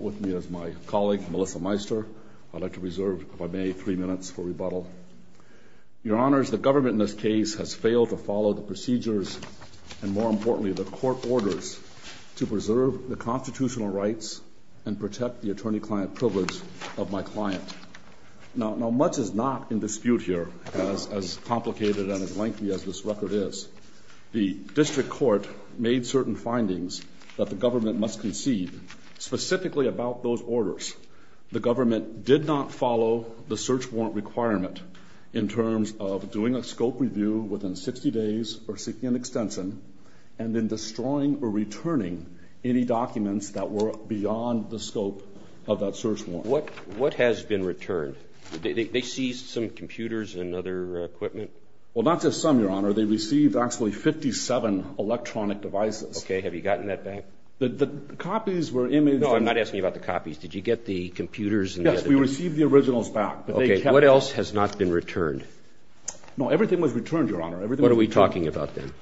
with me as my colleague Melissa Meister. I'd like to reserve, if I may, three minutes for rebuttal. Your Honors, the government in this case has failed to follow the procedures and, more importantly, the court orders to preserve the constitutional rights and protect the attorney-client privilege of my client. Now, much is not in dispute here. As complicated as this case is, the district court made certain findings that the government must concede, specifically about those orders. The government did not follow the search warrant requirement in terms of doing a scope review within 60 days or seeking an extension and then destroying or returning any documents that were beyond the scope of that search warrant. What has been returned? They seized some computers and other equipment? Well, not just some, Your Honor. They received actually 57 electronic devices. Okay. Have you gotten that back? The copies were imaged. No, I'm not asking you about the copies. Did you get the computers? Yes, we received the originals back. Okay. What else has not been returned? No, everything was returned, Your Honor. Everything was returned. What are we talking about then?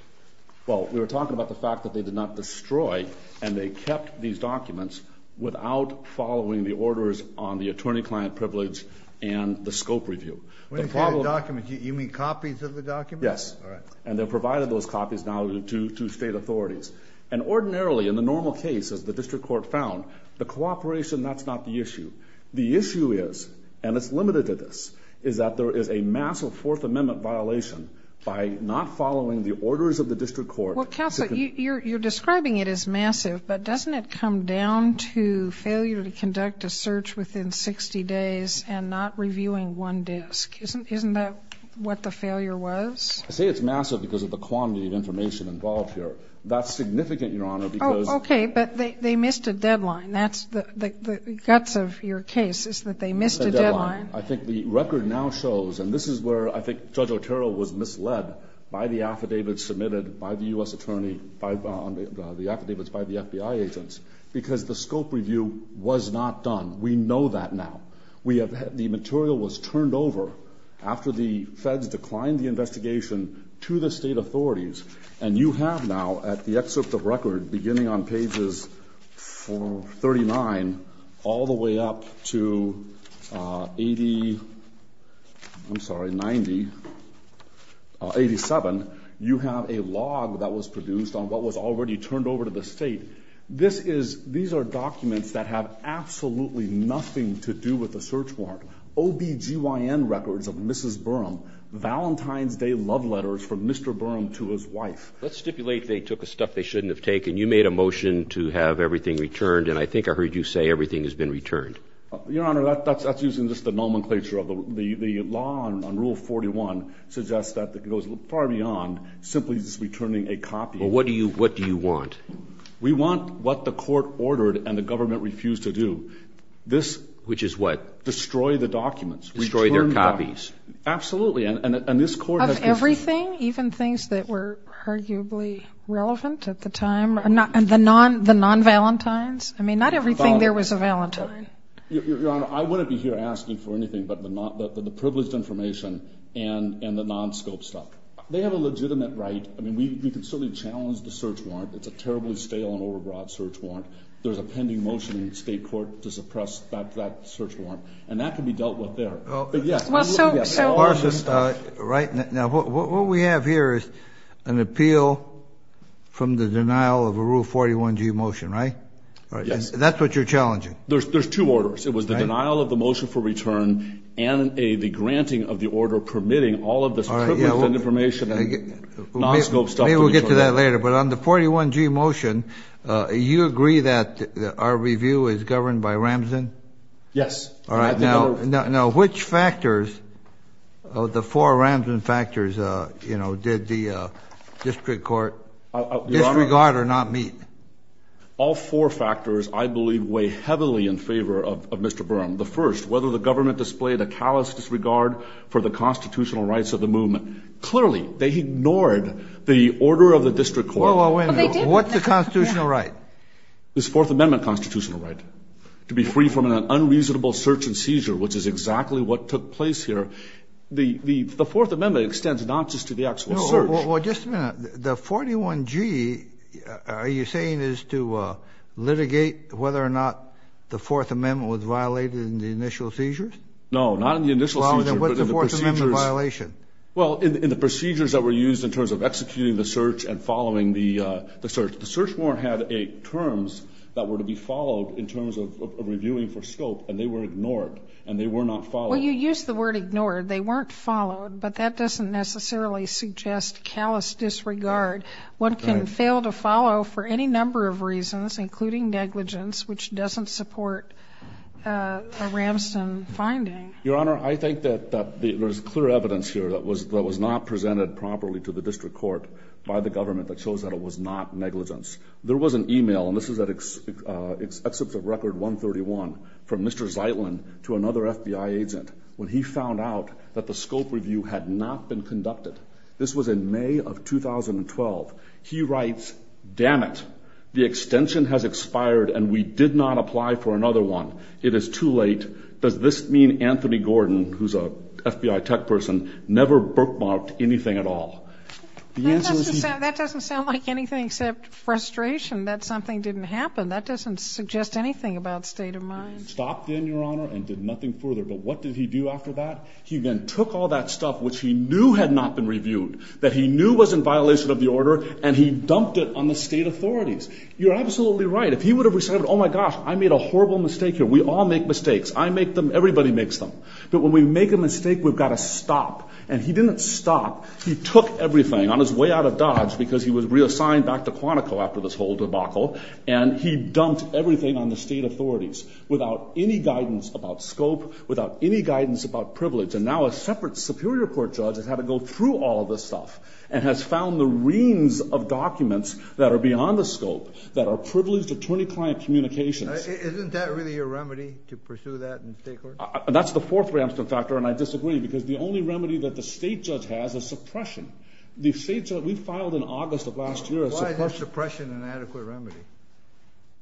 Well, we were talking about the fact that they did not destroy and they kept these documents without following the orders on the attorney-client privilege and the scope review. When you say documents, you mean copies of the documents? Yes. All right. And they provided those copies now to state authorities. And ordinarily, in the normal case, as the district court found, the cooperation, that's not the issue. The issue is, and it's limited to this, is that there is a massive Fourth Amendment violation by not following the orders of the district court. Well, counsel, you're describing it as massive, but doesn't it come down to failure to conduct a search within 60 days and not reviewing one disk? Isn't that what the failure was? I say it's massive because of the quantity of information involved here. That's significant, Your Honor, because – Oh, okay, but they missed a deadline. That's the guts of your case is that they missed a deadline. I think the record now shows, and this is where I think Judge Otero was misled, by the affidavits submitted by the U.S. attorney on the affidavits by the FBI agents, because the scope review was not done. We know that now. The material was turned over after the feds declined the investigation to the state authorities, and you have now, at the excerpt of record, beginning on pages 39, all the way up to 80 – I'm sorry, 90 – 87, you have a log that was produced on what was already turned over to the state. These are documents that have absolutely nothing to do with the search warrant. OBGYN records of Mrs. Burham, Valentine's Day love letters from Mr. Burham to his wife. Let's stipulate they took the stuff they shouldn't have taken. You made a motion to have everything returned, and I think I heard you say everything has been returned. Your Honor, that's using just the nomenclature of the law on Rule 41, suggests that it goes far beyond simply just returning a copy. Well, what do you want? We want what the court ordered and the government refused to do. Which is what? Destroy the documents. Destroy their copies. Absolutely. Of everything, even things that were arguably relevant at the time? The non-Valentine's? I mean, not everything there was a Valentine. Your Honor, I wouldn't be here asking for anything but the privileged information and the non-scope stuff. They have a legitimate right. I mean, we can certainly challenge the search warrant. It's a terribly stale and over-broad search warrant. There's a pending motion in the state court to suppress that search warrant, and that can be dealt with there. Well, so are the stuff. Right. Now, what we have here is an appeal from the denial of a Rule 41G motion, right? Yes. That's what you're challenging. There's two orders. It was the denial of the motion for return and the granting of the order permitting all of this privileged information and non-scope stuff. Maybe we'll get to that later, but on the 41G motion, you agree that our review is governed by Ramson? Yes. All right. Now, which factors, the four Ramson factors, did the district court disregard or not meet? All four factors, I believe, weigh heavily in favor of Mr. Byrne. The first, whether the government displayed a callous disregard for the constitutional rights of the movement. Clearly, they ignored the order of the district court. Wait a minute. What's the constitutional right? This Fourth Amendment constitutional right to be free from an unreasonable search and seizure, which is exactly what took place here. The Fourth Amendment extends not just to the actual search. Well, just a minute. The 41G, are you saying, is to litigate whether or not the Fourth Amendment was violated in the initial seizures? No, not in the initial seizures, but in the procedures. Well, in the procedures that were used in terms of executing the search and following the search. The search warrant had terms that were to be followed in terms of reviewing for scope, and they were ignored, and they were not followed. Well, you used the word ignored. They weren't followed, but that doesn't necessarily suggest callous disregard. One can fail to follow for any number of reasons, including negligence, which doesn't support a Ramson finding. Your Honor, I think that there's clear evidence here that was not presented properly to the district court by the government that shows that it was not negligence. There was an email, and this is at Exhibit Record 131, from Mr. Zeitlin to another FBI agent when he found out that the scope review had not been conducted. This was in May of 2012. He writes, damn it, the extension has expired, and we did not apply for another one. It is too late. Does this mean Anthony Gordon, who's a FBI tech person, never bookmarked anything at all? That doesn't sound like anything except frustration that something didn't happen. That doesn't suggest anything about state of mind. Stopped then, Your Honor, and did nothing further. But what did he do after that? He then took all that stuff which he knew had not been reviewed, that he knew was in violation of the order, and he dumped it on the state authorities. You're absolutely right. If he would have said, oh, my gosh, I made a horrible mistake here. We all make mistakes. I make them. Everybody makes them. But when we make a mistake, we've got to stop. And he didn't stop. He took everything on his way out of Dodge because he was reassigned back to Quantico after this whole debacle, and he dumped everything on the state authorities without any guidance about scope, without any guidance about privilege. And now a separate superior court judge has had to go through all of this stuff and has found the reams of documents that are beyond the scope that are privileged attorney-client communications. Isn't that really a remedy to pursue that in state court? That's the fourth Ramston factor, and I disagree because the only remedy that the state judge has is suppression. We filed in August of last year a suppression. Why is suppression an adequate remedy?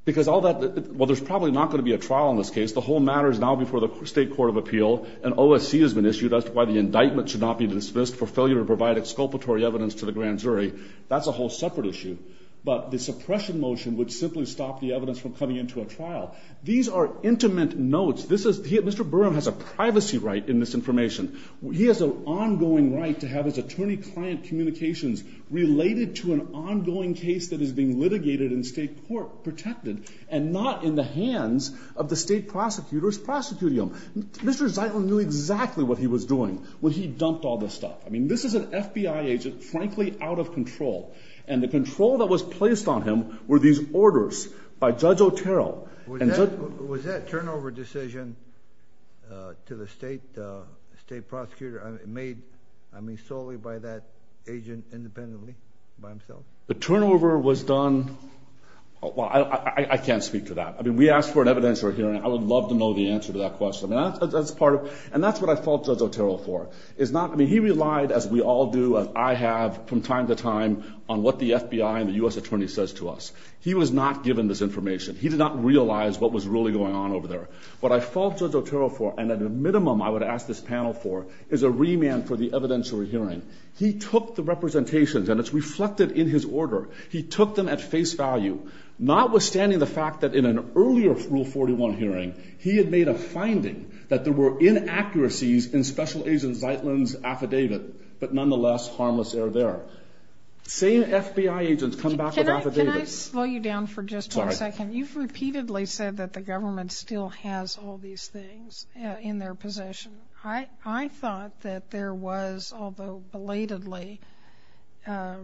Because all that – well, there's probably not going to be a trial in this case. The whole matter is now before the state court of appeal. An OSC has been issued as to why the indictment should not be dismissed for failure to provide exculpatory evidence to the grand jury. That's a whole separate issue. But the suppression motion would simply stop the evidence from coming into a trial. These are intimate notes. This is – Mr. Burham has a privacy right in this information. He has an ongoing right to have his attorney-client communications related to an ongoing case that is being litigated in state court, protected, and not in the hands of the state prosecutor's prosecutium. Mr. Zeitlin knew exactly what he was doing when he dumped all this stuff. I mean, this is an FBI agent, frankly, out of control. And the control that was placed on him were these orders by Judge Otero. Was that turnover decision to the state prosecutor made solely by that agent independently, by himself? The turnover was done – well, I can't speak to that. I mean, we asked for an evidentiary hearing. I would love to know the answer to that question. And that's part of – and that's what I fault Judge Otero for. I mean, he relied, as we all do, as I have from time to time, on what the FBI and the U.S. attorney says to us. He was not given this information. He did not realize what was really going on over there. What I fault Judge Otero for, and at a minimum I would ask this panel for, is a remand for the evidentiary hearing. He took the representations, and it's reflected in his order. He took them at face value. Notwithstanding the fact that in an earlier Rule 41 hearing, he had made a finding that there were inaccuracies in Special Agent Zeitlin's affidavit, but nonetheless harmless error there. Same FBI agents come back with affidavits. Can I slow you down for just one second? Sorry. You've repeatedly said that the government still has all these things in their possession. I thought that there was, although belatedly, a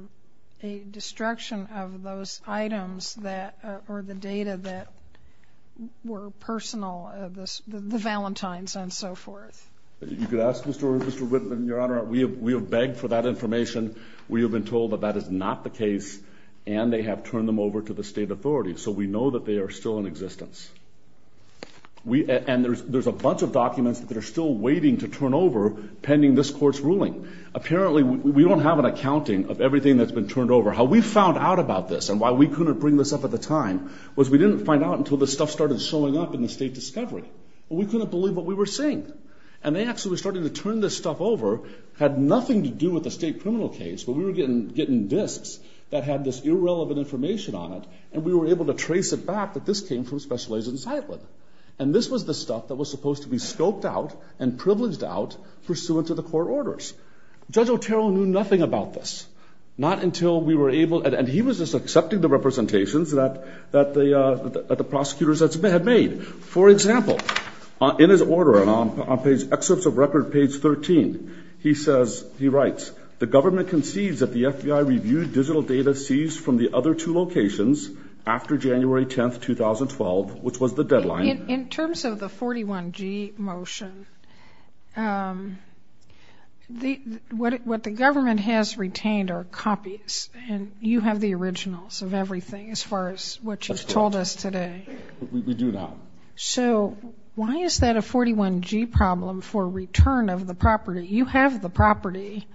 destruction of those items that – or the data that were personal, the Valentines and so forth. You could ask Mr. Whitman, Your Honor. We have begged for that information. We have been told that that is not the case, and they have turned them over to the state authorities. And there's a bunch of documents that are still waiting to turn over pending this court's ruling. Apparently we don't have an accounting of everything that's been turned over. How we found out about this and why we couldn't bring this up at the time was we didn't find out until this stuff started showing up in the state discovery. We couldn't believe what we were seeing, and they actually started to turn this stuff over. It had nothing to do with the state criminal case, but we were getting disks that had this irrelevant information on it, and we were able to trace it back that this came from Special Agent Seidman. And this was the stuff that was supposed to be scoped out and privileged out pursuant to the court orders. Judge Otero knew nothing about this, not until we were able – and he was just accepting the representations that the prosecutors had made. For example, in his order, and on page – excerpts of record page 13, he says – he writes, the government concedes that the FBI reviewed digital data seized from the other two locations after January 10, 2012, which was the deadline. In terms of the 41G motion, what the government has retained are copies, and you have the originals of everything as far as what you've told us today. We do now. So why is that a 41G problem for return of the property? You have the property.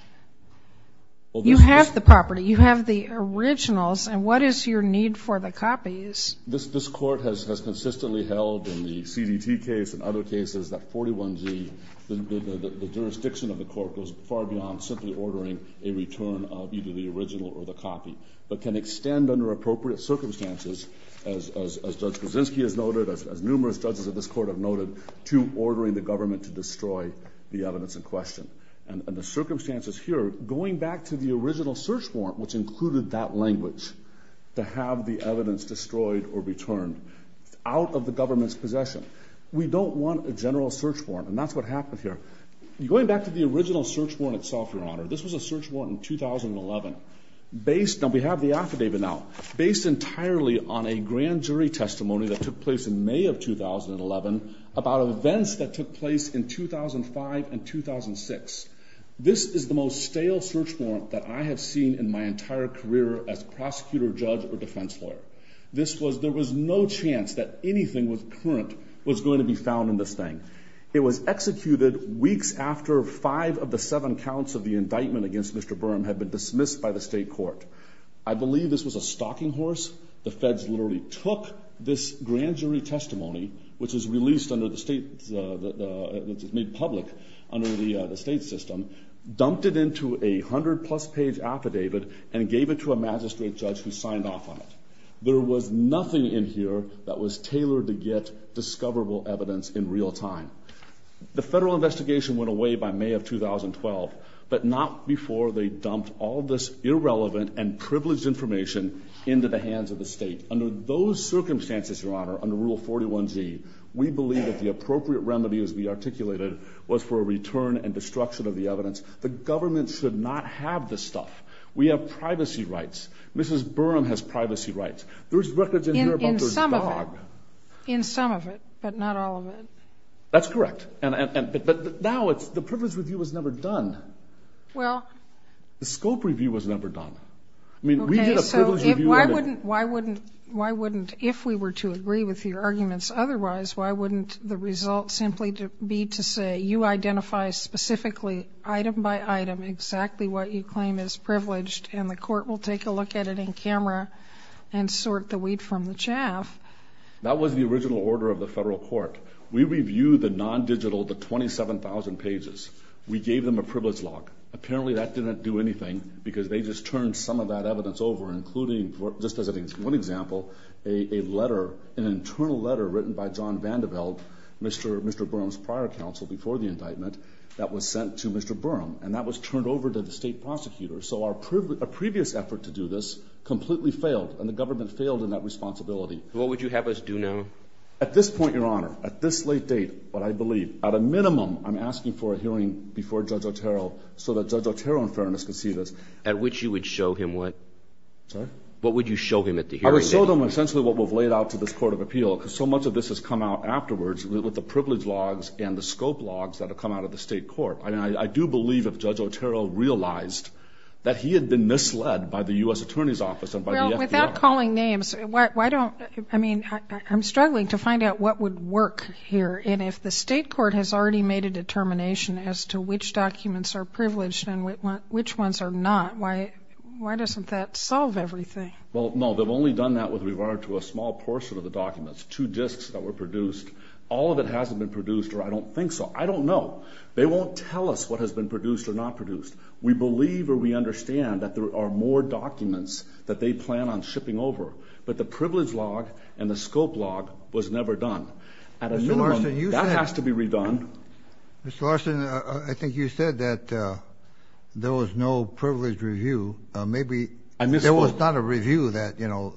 You have the property. You have the originals, and what is your need for the copies? This court has consistently held in the CDT case and other cases that 41G, the jurisdiction of the court, goes far beyond simply ordering a return of either the original or the copy, but can extend under appropriate circumstances, as Judge Brzezinski has noted, as numerous judges of this court have noted, to ordering the government to destroy the evidence in question. And the circumstances here, going back to the original search warrant, which included that language, to have the evidence destroyed or returned out of the government's possession. We don't want a general search warrant, and that's what happened here. Going back to the original search warrant itself, Your Honor, this was a search warrant in 2011 based on, we have the affidavit now, based entirely on a grand jury testimony that took place in May of 2011 about events that took place in 2005 and 2006. This is the most stale search warrant that I have seen in my entire career as prosecutor, judge, or defense lawyer. This was, there was no chance that anything was current was going to be found in this thing. It was executed weeks after five of the seven counts of the indictment against Mr. Burham had been dismissed by the state court. I believe this was a stalking horse. The feds literally took this grand jury testimony, which was released under the state, which was made public under the state system, dumped it into a hundred-plus page affidavit, and gave it to a magistrate judge who signed off on it. There was nothing in here that was tailored to get discoverable evidence in real time. The federal investigation went away by May of 2012, but not before they dumped all this irrelevant and privileged information into the hands of the state. Under those circumstances, Your Honor, under Rule 41Z, we believe that the appropriate remedy, as we articulated, was for a return and destruction of the evidence. The government should not have this stuff. We have privacy rights. Mrs. Burham has privacy rights. There's records in here about the dog. In some of it, but not all of it. That's correct. But now it's the privilege review was never done. Well. The scope review was never done. I mean, we did a privilege review on it. Okay. So why wouldn't, if we were to agree with your arguments otherwise, why wouldn't the result simply be to say you identify specifically, item by item, exactly what you claim is privileged, and the court will take a look at it in camera and sort the weed from the chaff? That was the original order of the federal court. We reviewed the non-digital, the 27,000 pages. We gave them a privilege log. Apparently that didn't do anything because they just turned some of that evidence over, including, just as one example, a letter, an internal letter written by John Vanderbilt, Mr. Burham's prior counsel before the indictment, that was sent to Mr. Burham, and that was turned over to the state prosecutor. So a previous effort to do this completely failed, and the government failed in that responsibility. What would you have us do now? At this point, Your Honor, at this late date, what I believe, at a minimum I'm asking for a hearing before Judge Otero so that Judge Otero, in fairness, can see this. At which you would show him what? Sorry? What would you show him at the hearing? I would show them essentially what we've laid out to this court of appeal because so much of this has come out afterwards with the privilege logs and the scope logs that have come out of the state court. And I do believe if Judge Otero realized that he had been misled by the U.S. Attorney's Office and by the FBI. Well, without calling names, why don't, I mean, I'm struggling to find out what would work here. And if the state court has already made a determination as to which documents are privileged and which ones are not, why doesn't that solve everything? Well, no, they've only done that with regard to a small portion of the documents, two disks that were produced. All of it hasn't been produced, or I don't think so. I don't know. They won't tell us what has been produced or not produced. We believe or we understand that there are more documents that they plan on shipping over. But the privilege log and the scope log was never done. At a minimum, that has to be redone. Mr. Larson, I think you said that there was no privilege review. Maybe there was not a review that, you know,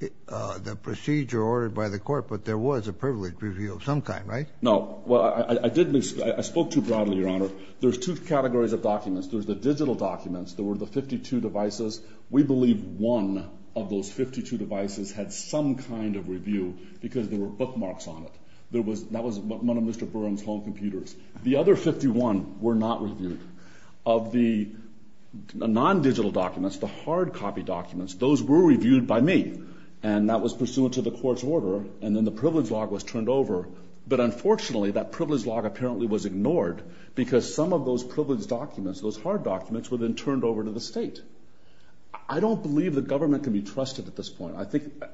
the procedure ordered by the court, but there was a privilege review of some kind, right? No. Well, I spoke too broadly, Your Honor. There's two categories of documents. There's the digital documents. There were the 52 devices. We believe one of those 52 devices had some kind of review because there were bookmarks on it. That was one of Mr. Burns' home computers. The other 51 were not reviewed. Of the non-digital documents, the hard copy documents, those were reviewed by me, and that was pursuant to the court's order, and then the privilege log was turned over. But unfortunately, that privilege log apparently was ignored because some of those privilege documents, those hard documents, were then turned over to the State. I don't believe the government can be trusted at this point.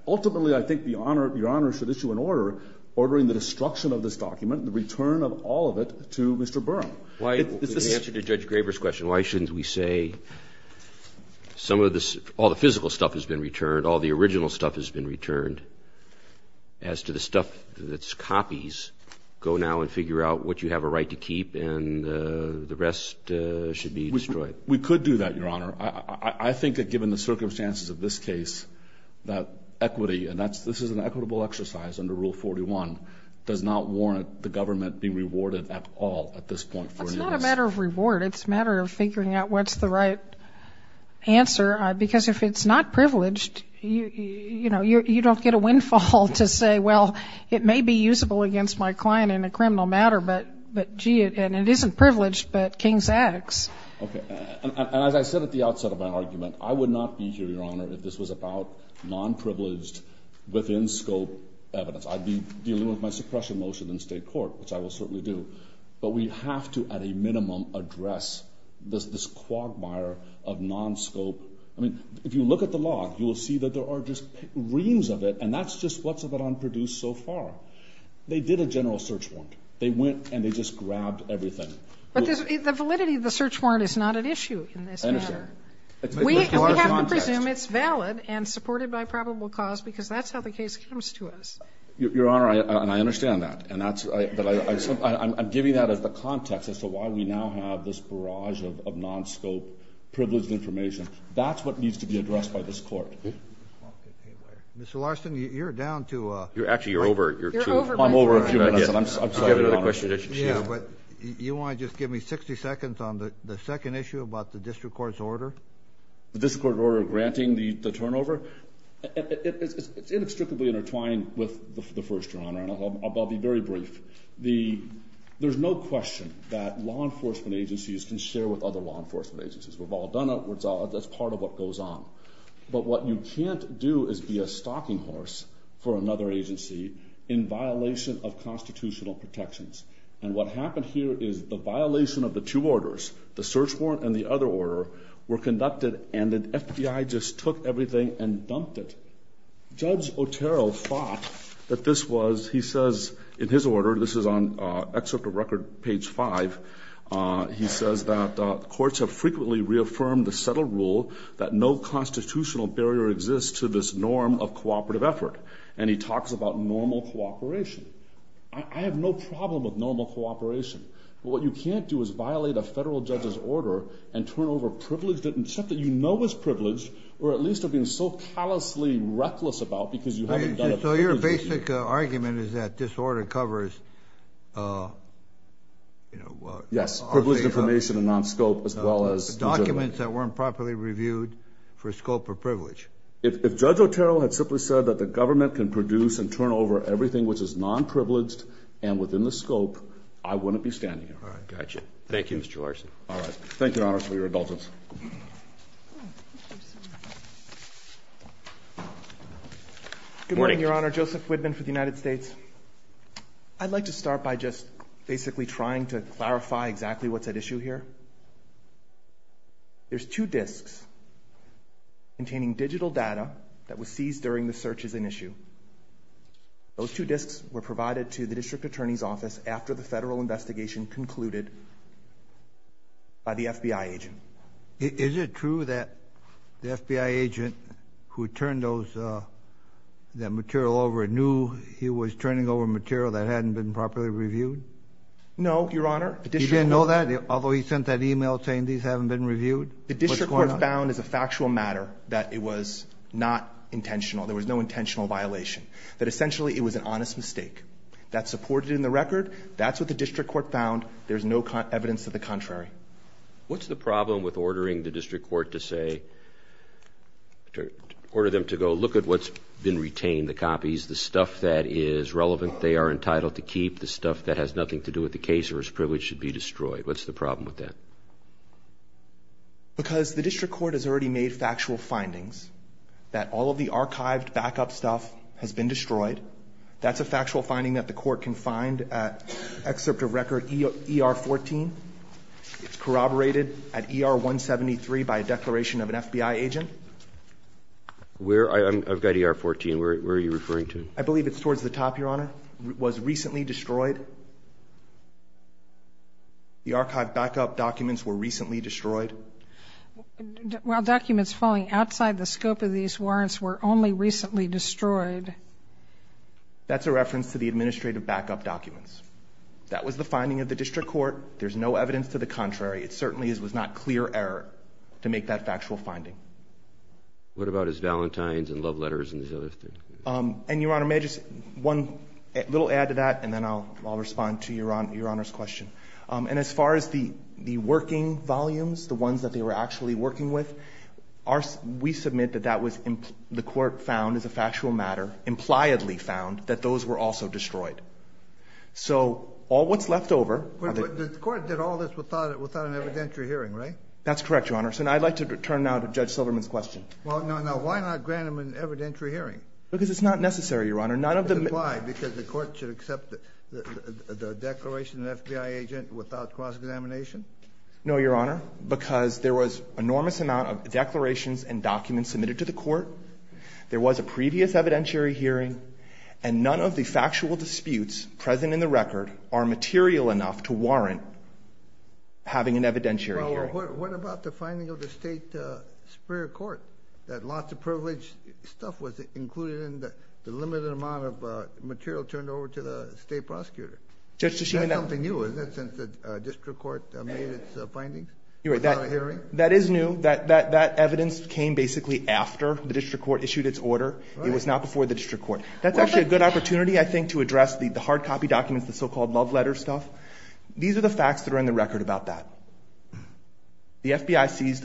Ultimately, I think Your Honor should issue an order ordering the destruction of this document and the return of all of it to Mr. Burram. In answer to Judge Graber's question, why shouldn't we say all the physical stuff has been returned, all the original stuff has been returned, as to the stuff that's copies, go now and figure out what you have a right to keep, and the rest should be destroyed? We could do that, Your Honor. I think that given the circumstances of this case, that equity, and this is an equitable exercise under Rule 41, does not warrant the government being rewarded at all at this point. It's not a matter of reward. It's a matter of figuring out what's the right answer because if it's not privileged, you know, you don't get a windfall to say, well, it may be usable against my client in a criminal matter, but gee, and it isn't privileged, but King's X. Okay. And as I said at the outset of my argument, I would not be here, Your Honor, if this was about non-privileged within scope evidence. I'd be dealing with my suppression motion in State court, which I will certainly do. But we have to, at a minimum, address this quagmire of non-scope. I mean, if you look at the law, you will see that there are just reams of it, and that's just what's been produced so far. They did a general search warrant. They went and they just grabbed everything. But the validity of the search warrant is not at issue in this matter. We have to presume it's valid and supported by probable cause because that's how the case comes to us. Your Honor, and I understand that. I'm giving that as the context as to why we now have this barrage of non-scope privileged information. That's what needs to be addressed by this Court. Mr. Larson, you're down to a question. Actually, you're over. I'm over a few minutes, and I'm sorry, Your Honor. Yeah, but you want to just give me 60 seconds on the second issue about the district court's order? The district court order granting the turnover? It's inextricably intertwined with the first, Your Honor, and I'll be very brief. There's no question that law enforcement agencies can share with other law enforcement agencies. We've all done it. That's part of what goes on. But what you can't do is be a stalking horse for another agency in violation of constitutional protections. And what happened here is the violation of the two orders, the search warrant and the other order, were conducted, and the FBI just took everything and dumped it. Judge Otero thought that this was, he says in his order, this is on excerpt of record page five, he says that courts have frequently reaffirmed the settled rule that no constitutional barrier exists to this norm of cooperative effort. And he talks about normal cooperation. I have no problem with normal cooperation. But what you can't do is violate a federal judge's order and turn over privileged and stuff that you know is privileged, or at least are being so callously reckless about because you haven't done it. So your basic argument is that this order covers. Yes. Privileged information and non-scope as well as documents that weren't properly reviewed for scope or privilege. If Judge Otero had simply said that the government can produce and turn over everything, which is non-privileged and within the scope, I wouldn't be standing here. All right. Gotcha. Thank you, Mr. Larson. All right. Thank you, Your Honor, for your indulgence. Good morning, Your Honor. Joseph Whitman for the United States. I'd like to start by just basically trying to clarify exactly what's at issue here. There's two disks containing digital data that was seized during the search as an issue. Those two disks were provided to the district attorney's office after the FBI agent. Is it true that the FBI agent who turned that material over knew he was turning over material that hadn't been properly reviewed? No, Your Honor. He didn't know that? Although he sent that email saying these haven't been reviewed? What's going on? The district court found as a factual matter that it was not intentional. There was no intentional violation. That essentially it was an honest mistake. That's supported in the record. That's what the district court found. There's no evidence of the contrary. What's the problem with ordering the district court to say, order them to go look at what's been retained, the copies, the stuff that is relevant they are entitled to keep, the stuff that has nothing to do with the case or is privileged to be destroyed? What's the problem with that? Because the district court has already made factual findings that all of the archived backup stuff has been destroyed. That's a factual finding that the court can find at excerpt of record ER-14. It's corroborated at ER-173 by a declaration of an FBI agent. I've got ER-14. Where are you referring to? I believe it's towards the top, Your Honor. It was recently destroyed. The archived backup documents were recently destroyed. While documents falling outside the scope of these warrants were only recently destroyed. That's a reference to the administrative backup documents. That was the finding of the district court. There's no evidence to the contrary. It certainly was not clear error to make that factual finding. What about his valentines and love letters? And Your Honor, may I just, one little add to that, and then I'll respond to Your Honor's question. And as far as the working volumes, the ones that they were actually working with, we submit that that was the court found as a factual matter, impliedly found that those were also destroyed. So all what's left over. The court did all this without an evidentiary hearing, right? That's correct, Your Honor. So I'd like to turn now to Judge Silverman's question. Well, no, no. Why not grant him an evidentiary hearing? Because it's not necessary, Your Honor. Why? Because the court should accept the declaration of an FBI agent without cross-examination? No, Your Honor. Because there was an enormous amount of declarations and documents submitted to the court, there was a previous evidentiary hearing, and none of the factual disputes present in the record are material enough to warrant having an evidentiary hearing. Well, what about the finding of the state superior court that lots of privileged stuff was included in the limited amount of material turned over to the state prosecutor? That's something new, isn't it, since the district court made its findings without a hearing? You're right. That is new. That evidence came basically after the district court issued its order. It was not before the district court. That's actually a good opportunity, I think, to address the hard copy documents, the so-called love letter stuff. These are the facts that are in the record about that. The FBI seized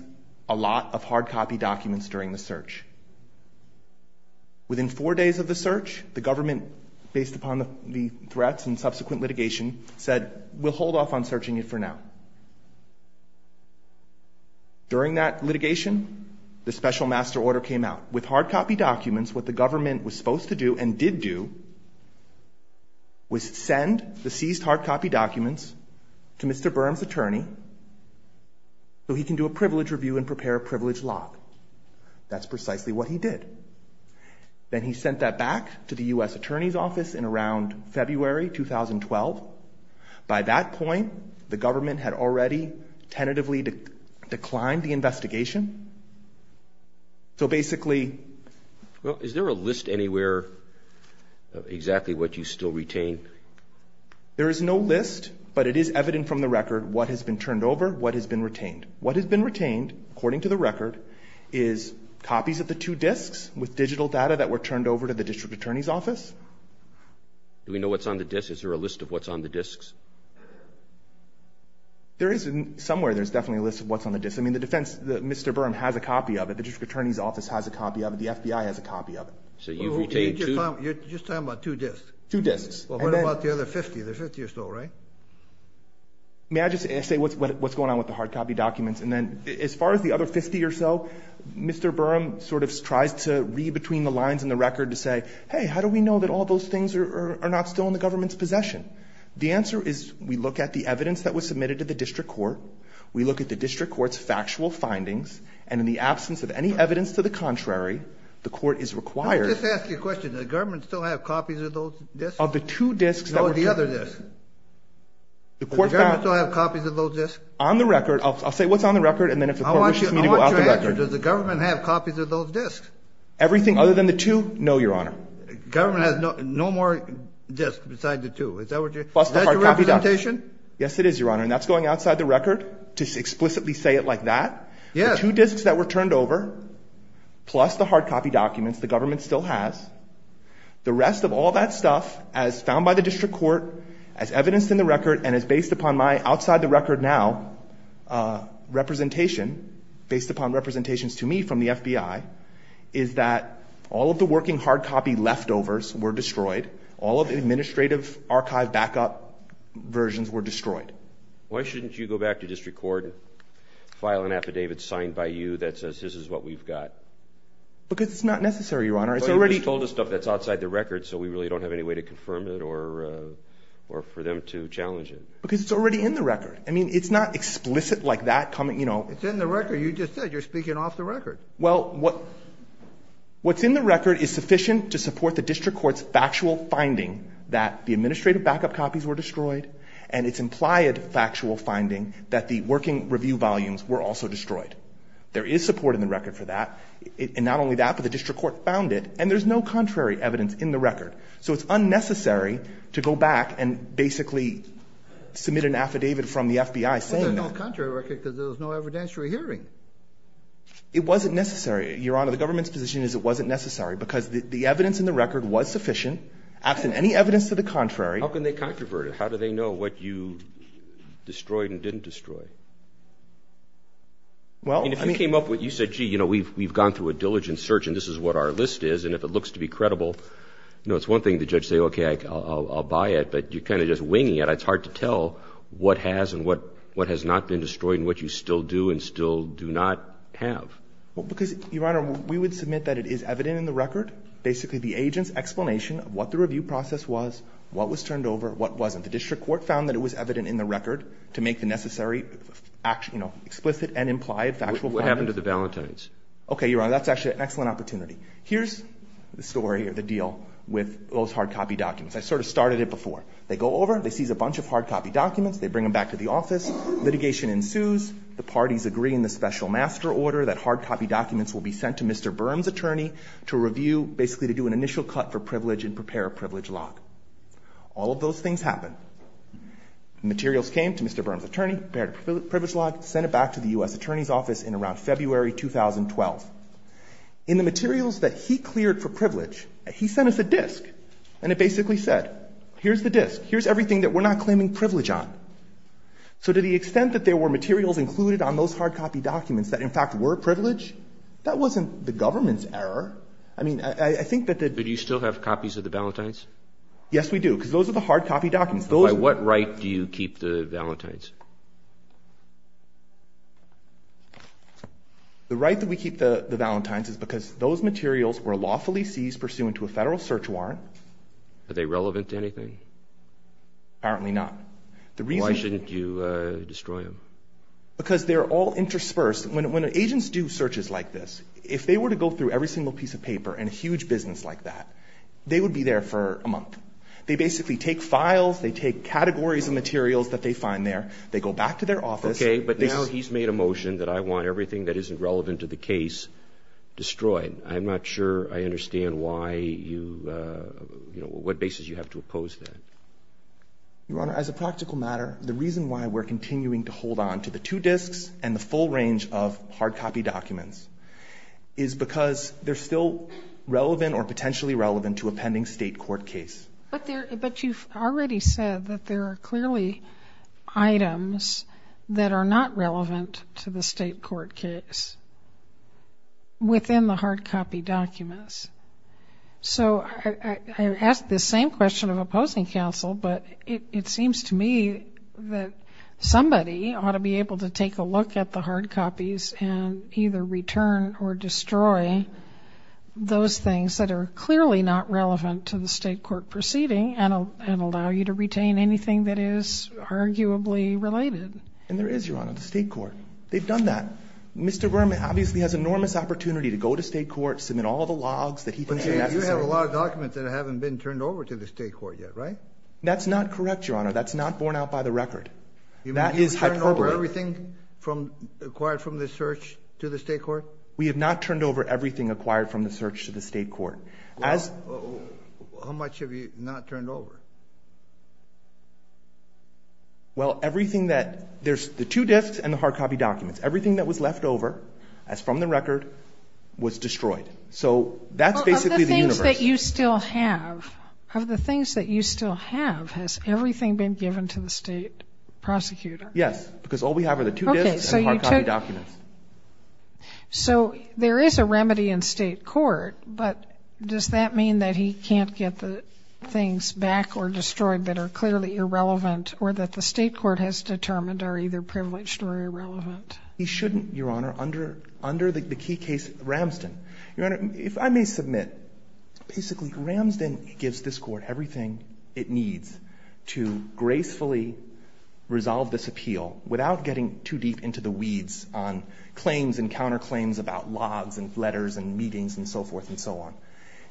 a lot of hard copy documents during the search. Within four days of the search, the government, based upon the threats and subsequent litigation, said we'll hold off on searching it for now. During that litigation, the special master order came out. With hard copy documents, what the government was supposed to do and did do was send the seized hard copy documents to Mr. Burns' attorney so he can do a privilege review and prepare a privilege lock. That's precisely what he did. Then he sent that back to the U.S. attorney's office in around February 2012. By that point, the government had already tentatively declined the investigation. So basically... Well, is there a list anywhere of exactly what you still retain? There is no list, but it is evident from the record what has been turned over, what has been retained. What has been retained, according to the record, is copies of the two disks with digital data that were turned over to the district attorney's office. Do we know what's on the disks? Is there a list of what's on the disks? There is. Somewhere there's definitely a list of what's on the disks. I mean, the defense, Mr. Burns has a copy of it. The district attorney's office has a copy of it. The FBI has a copy of it. So you've retained two? You're just talking about two disks? Two disks. Well, what about the other 50? There's 50 or so, right? May I just say what's going on with the hard copy documents? And then as far as the other 50 or so, Mr. Burns sort of tries to read between the lines in the record to say, hey, how do we know that all those things are not still in the government's possession? The answer is we look at the evidence that was submitted to the district court. We look at the district court's factual findings. And in the absence of any evidence to the contrary, the court is required... Let me just ask you a question. Does the government still have copies of those disks? Of the two disks that were turned over? Does the government still have copies of those disks? On the record. I'll say what's on the record, and then if the court wishes me to go out the record. I want your answer. Does the government have copies of those disks? Everything other than the two? No, Your Honor. The government has no more disks besides the two. Is that what you're saying? Plus the hard copy documents. Is that your representation? Yes, it is, Your Honor. And that's going outside the record to explicitly say it like that. Yes. The two disks that were turned over plus the hard copy documents the government still has, the rest of all that stuff as found by the district court, as evidenced in the record, and as based upon my outside the record now representation, based upon representations to me from the FBI, is that all of the working hard copy leftovers were destroyed. All of the administrative archive backup versions were destroyed. Why shouldn't you go back to district court and file an affidavit signed by you that says this is what we've got? Because it's not necessary, Your Honor. Well, you just told us stuff that's outside the record, so we really don't have any way to confirm it or for them to challenge it. Because it's already in the record. I mean, it's not explicit like that coming, you know. It's in the record. You just said you're speaking off the record. Well, what's in the record is sufficient to support the district court's factual finding that the administrative backup copies were destroyed, and its implied factual finding that the working review volumes were also destroyed. There is support in the record for that. And not only that, but the district court found it, and there's no contrary evidence in the record. So it's unnecessary to go back and basically submit an affidavit from the FBI saying that. Well, there's no contrary record because there was no evidentiary hearing. It wasn't necessary, Your Honor. The government's position is it wasn't necessary because the evidence in the record was sufficient. Absent any evidence to the contrary. How can they controvert it? How do they know what you destroyed and didn't destroy? And if you came up with, you said, gee, you know, we've gone through a diligent search and this is what our list is, and if it looks to be credible, you know, it's one thing to say, okay, I'll buy it. But you're kind of just winging it. It's hard to tell what has and what has not been destroyed and what you still do and still do not have. Well, because, Your Honor, we would submit that it is evident in the record, basically the agent's explanation of what the review process was, what was turned over, what wasn't. The district court found that it was evident in the record to make the necessary explicit and implied factual findings. What happened to the Valentines? Okay, Your Honor, that's actually an excellent opportunity. Here's the story or the deal with those hardcopy documents. I sort of started it before. They go over, they seize a bunch of hardcopy documents, they bring them back to the office, litigation ensues, the parties agree in the special master order that hardcopy documents will be sent to Mr. Berm's attorney to review, basically to do an initial cut for privilege and prepare a privilege lock. All of those things happen. The materials came to Mr. Berm's attorney, prepared a privilege lock, sent it back to the U.S. attorney's office in around February 2012. In the materials that he cleared for privilege, he sent us a disk, and it basically said, here's the disk, here's everything that we're not claiming privilege on. So to the extent that there were materials included on those hardcopy documents that, in fact, were privilege, that wasn't the government's error. I mean, I think that the – But do you still have copies of the Valentines? Yes, we do, because those are the hardcopy documents. By what right do you keep the Valentines? The right that we keep the Valentines is because those materials were lawfully seized pursuant to a federal search warrant. Are they relevant to anything? Apparently not. Why shouldn't you destroy them? Because they're all interspersed. When agents do searches like this, if they were to go through every single piece of paper in a huge business like that, they would be there for a month. They basically take files, they take categories of materials that they find there, they go back to their office. Okay, but now he's made a motion that I want everything that isn't relevant to the case destroyed. I'm not sure I understand why you – what basis you have to oppose that. Your Honor, as a practical matter, the reason why we're continuing to hold on to the two disks and the full range of hardcopy documents is because they're still relevant or potentially relevant to a pending state court case. But you've already said that there are clearly items that are not relevant to the state court case within the hardcopy documents. So I ask the same question of opposing counsel, but it seems to me that somebody ought to be able to take a look at the hardcopies and either return or destroy those things that are clearly not relevant to the state court proceeding and allow you to retain anything that is arguably related. And there is, Your Honor, the state court. They've done that. Mr. Berman obviously has enormous opportunity to go to state court, submit all the logs that he thinks are necessary. But you have a lot of documents that haven't been turned over to the state court yet, right? That's not correct, Your Honor. That's not borne out by the record. That is hyperbole. You mean you've turned over everything acquired from the search to the state court? We have not turned over everything acquired from the search to the state court. Well, how much have you not turned over? Well, everything that – there's the two disks and the hardcopy documents. Everything that was left over, as from the record, was destroyed. So that's basically the universe. Of the things that you still have, has everything been given to the state prosecutor? Yes, because all we have are the two disks and the hardcopy documents. Okay. So there is a remedy in state court, but does that mean that he can't get the things back or destroyed that are clearly irrelevant or that the state court has determined are either privileged or irrelevant? He shouldn't, Your Honor, under the key case, Ramsden. Your Honor, if I may submit, basically Ramsden gives this court everything it needs to gracefully resolve this appeal without getting too deep into the weeds on claims and counterclaims about logs and letters and meetings and so forth and so on.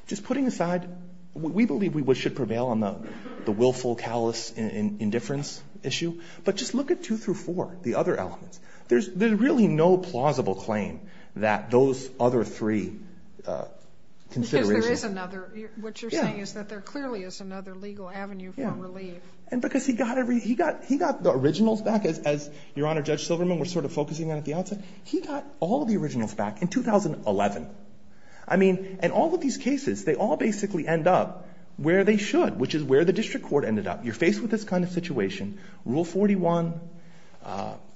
Just putting aside, we believe we should prevail on the willful callous indifference issue, but just look at two through four, the other elements. There's really no plausible claim that those other three considerations... Because there is another. What you're saying is that there clearly is another legal avenue for relief. Because he got the originals back, as Your Honor, Judge Silverman was sort of focusing on at the outset. He got all of the originals back in 2011. I mean, in all of these cases, they all basically end up where they should, which is where the district court ended up. You're faced with this kind of situation. Rule 41,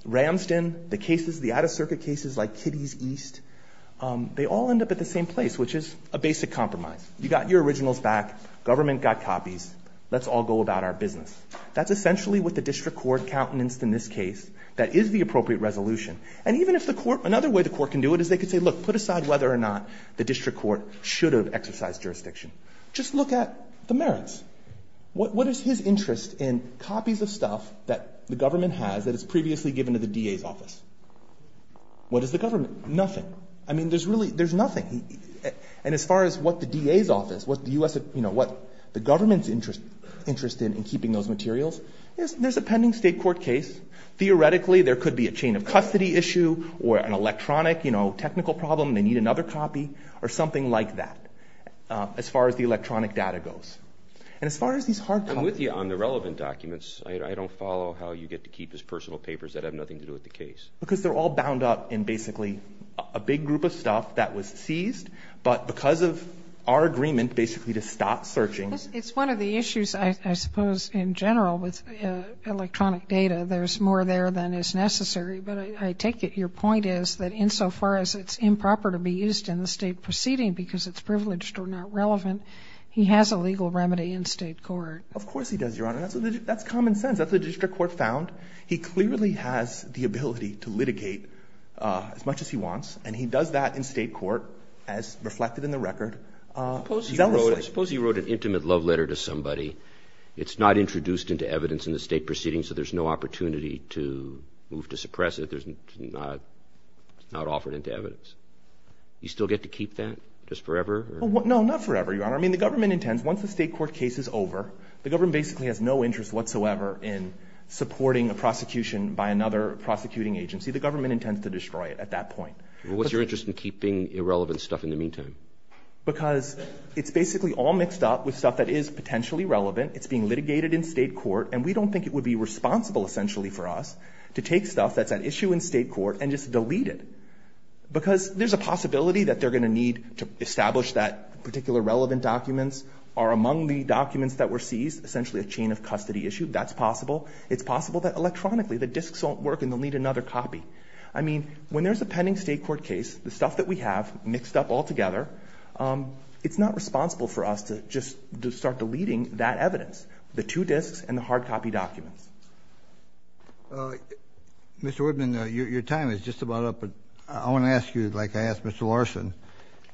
Ramsden, the cases, the out-of-circuit cases like Kiddy's East, they all end up at the same place, which is a basic compromise. You got your originals back. Government got copies. Let's all go about our business. That's essentially what the district court countenanced in this case. That is the appropriate resolution. And even if the court... Another way the court can do it is they could say, look, put aside whether or not the district court should have exercised jurisdiction. Just look at the merits. What is his interest in copies of stuff that the government has that is previously given to the DA's office? What is the government? Nothing. I mean, there's nothing. And as far as what the DA's office, what the government's interest in in keeping those materials, there's a pending state court case. Theoretically, there could be a chain of custody issue or an electronic technical problem. They need another copy or something like that as far as the electronic data goes. And as far as these hard copies... I'm with you on the relevant documents. I don't follow how you get to keep his personal papers that have nothing to do with the case. Because they're all bound up in basically a big group of stuff that was seized. But because of our agreement basically to stop searching... It's one of the issues, I suppose, in general with electronic data. There's more there than is necessary. But I take it your point is that insofar as it's improper to be used in the state proceeding because it's privileged or not relevant, he has a legal remedy in state court. Of course he does, Your Honor. That's common sense. That's what the district court found. He clearly has the ability to litigate as much as he wants, and he does that in state court as reflected in the record. Suppose he wrote an intimate love letter to somebody. It's not introduced into evidence in the state proceeding, so there's no opportunity to move to suppress it. It's not offered into evidence. You still get to keep that just forever? No, not forever, Your Honor. I mean, the government intends once the state court case is over, the government basically has no interest whatsoever in supporting a prosecution by another prosecuting agency. The government intends to destroy it at that point. What's your interest in keeping irrelevant stuff in the meantime? Because it's basically all mixed up with stuff that is potentially relevant. It's being litigated in state court, and we don't think it would be responsible essentially for us to take stuff that's at issue in state court and just delete it. Because there's a possibility that they're going to need to establish that particular relevant documents are among the documents that were seized, essentially a chain of custody issue. That's possible. It's possible that electronically the disks won't work and they'll need another copy. I mean, when there's a pending state court case, the stuff that we have mixed up altogether, it's not responsible for us to just start deleting that evidence, the two disks and the hard copy documents. Mr. Woodman, your time is just about up. I want to ask you, like I asked Mr. Larson,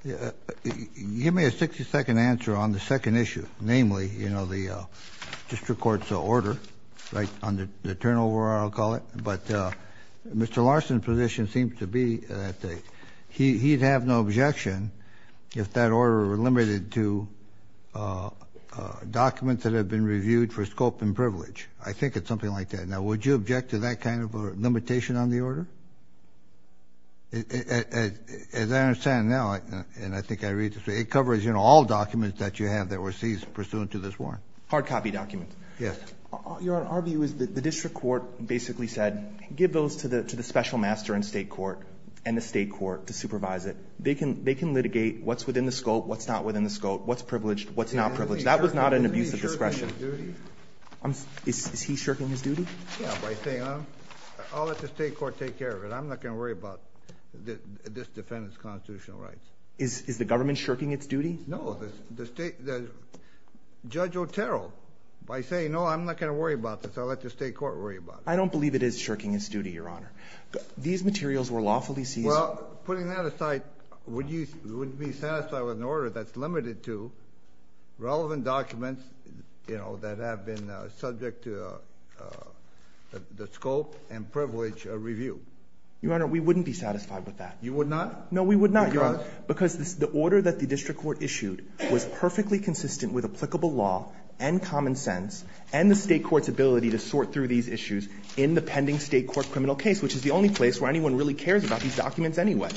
give me a 60-second answer on the second issue, namely, you know, the district court's order on the turnover, I'll call it. But Mr. Larson's position seems to be that he'd have no objection if that order were limited to documents that have been reviewed for scope and privilege. I think it's something like that. Now, would you object to that kind of limitation on the order? As I understand now, and I think I read this, it covers all documents that you have that were seized pursuant to this warrant. Hard copy documents. Yes. Your honor, our view is that the district court basically said, give those to the special master in state court and the state court to supervise it. They can litigate what's within the scope, what's not within the scope, what's privileged, what's not privileged. That was not an abuse of discretion. Is he shirking his duty? Yeah, by saying, I'll let the state court take care of it. I'm not going to worry about this defendant's constitutional rights. Is the government shirking its duty? No. Judge Otero, by saying, no, I'm not going to worry about this, I'll let the state court worry about it. I don't believe it is shirking its duty, your honor. These materials were lawfully seized. Well, putting that aside, would you be satisfied with an order that's limited to relevant documents, you know, that have been subject to the scope and privilege review? Your honor, we wouldn't be satisfied with that. You would not? No, we would not, your honor. Because? Because the order that the district court issued was perfectly consistent with applicable law and common sense and the state court's ability to sort through these issues in the pending state court criminal case, which is the only place where anyone really cares about these documents anyway.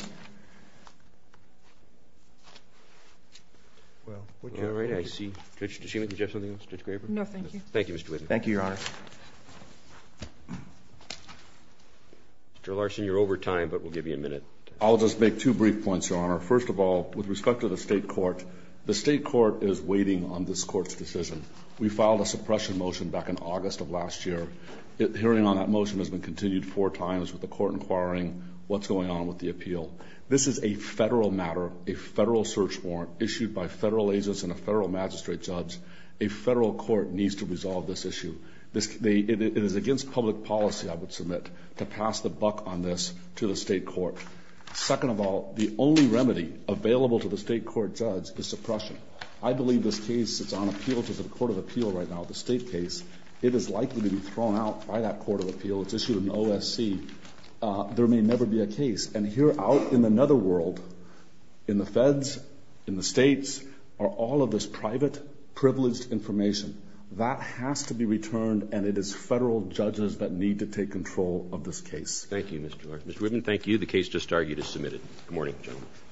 Well, would you write it? I see. Judge, did you have something else? Judge Graber? No, thank you. Thank you, Mr. Whitten. Thank you, your honor. Mr. Larson, you're over time, but we'll give you a minute. I'll just make two brief points, your honor. First of all, with respect to the state court, the state court is waiting on this court's decision. We filed a suppression motion back in August of last year. The hearing on that motion has been continued four times with the court inquiring what's going on with the appeal. This is a federal matter, a federal search warrant issued by federal agents and a federal magistrate judge. A federal court needs to resolve this issue. It is against public policy, I would submit, to pass the buck on this to the state court. Second of all, the only remedy available to the state court judge is suppression. I believe this case is on appeal to the court of appeal right now, the state case. It is likely to be thrown out by that court of appeal. It's issued an OSC. There may never be a case. And here out in another world, in the feds, in the states, are all of this private, privileged information. That has to be returned, and it is federal judges that need to take control of this case. Thank you, Mr. Clark. Mr. Whitten, thank you. The case just argued is submitted. Good morning, gentlemen.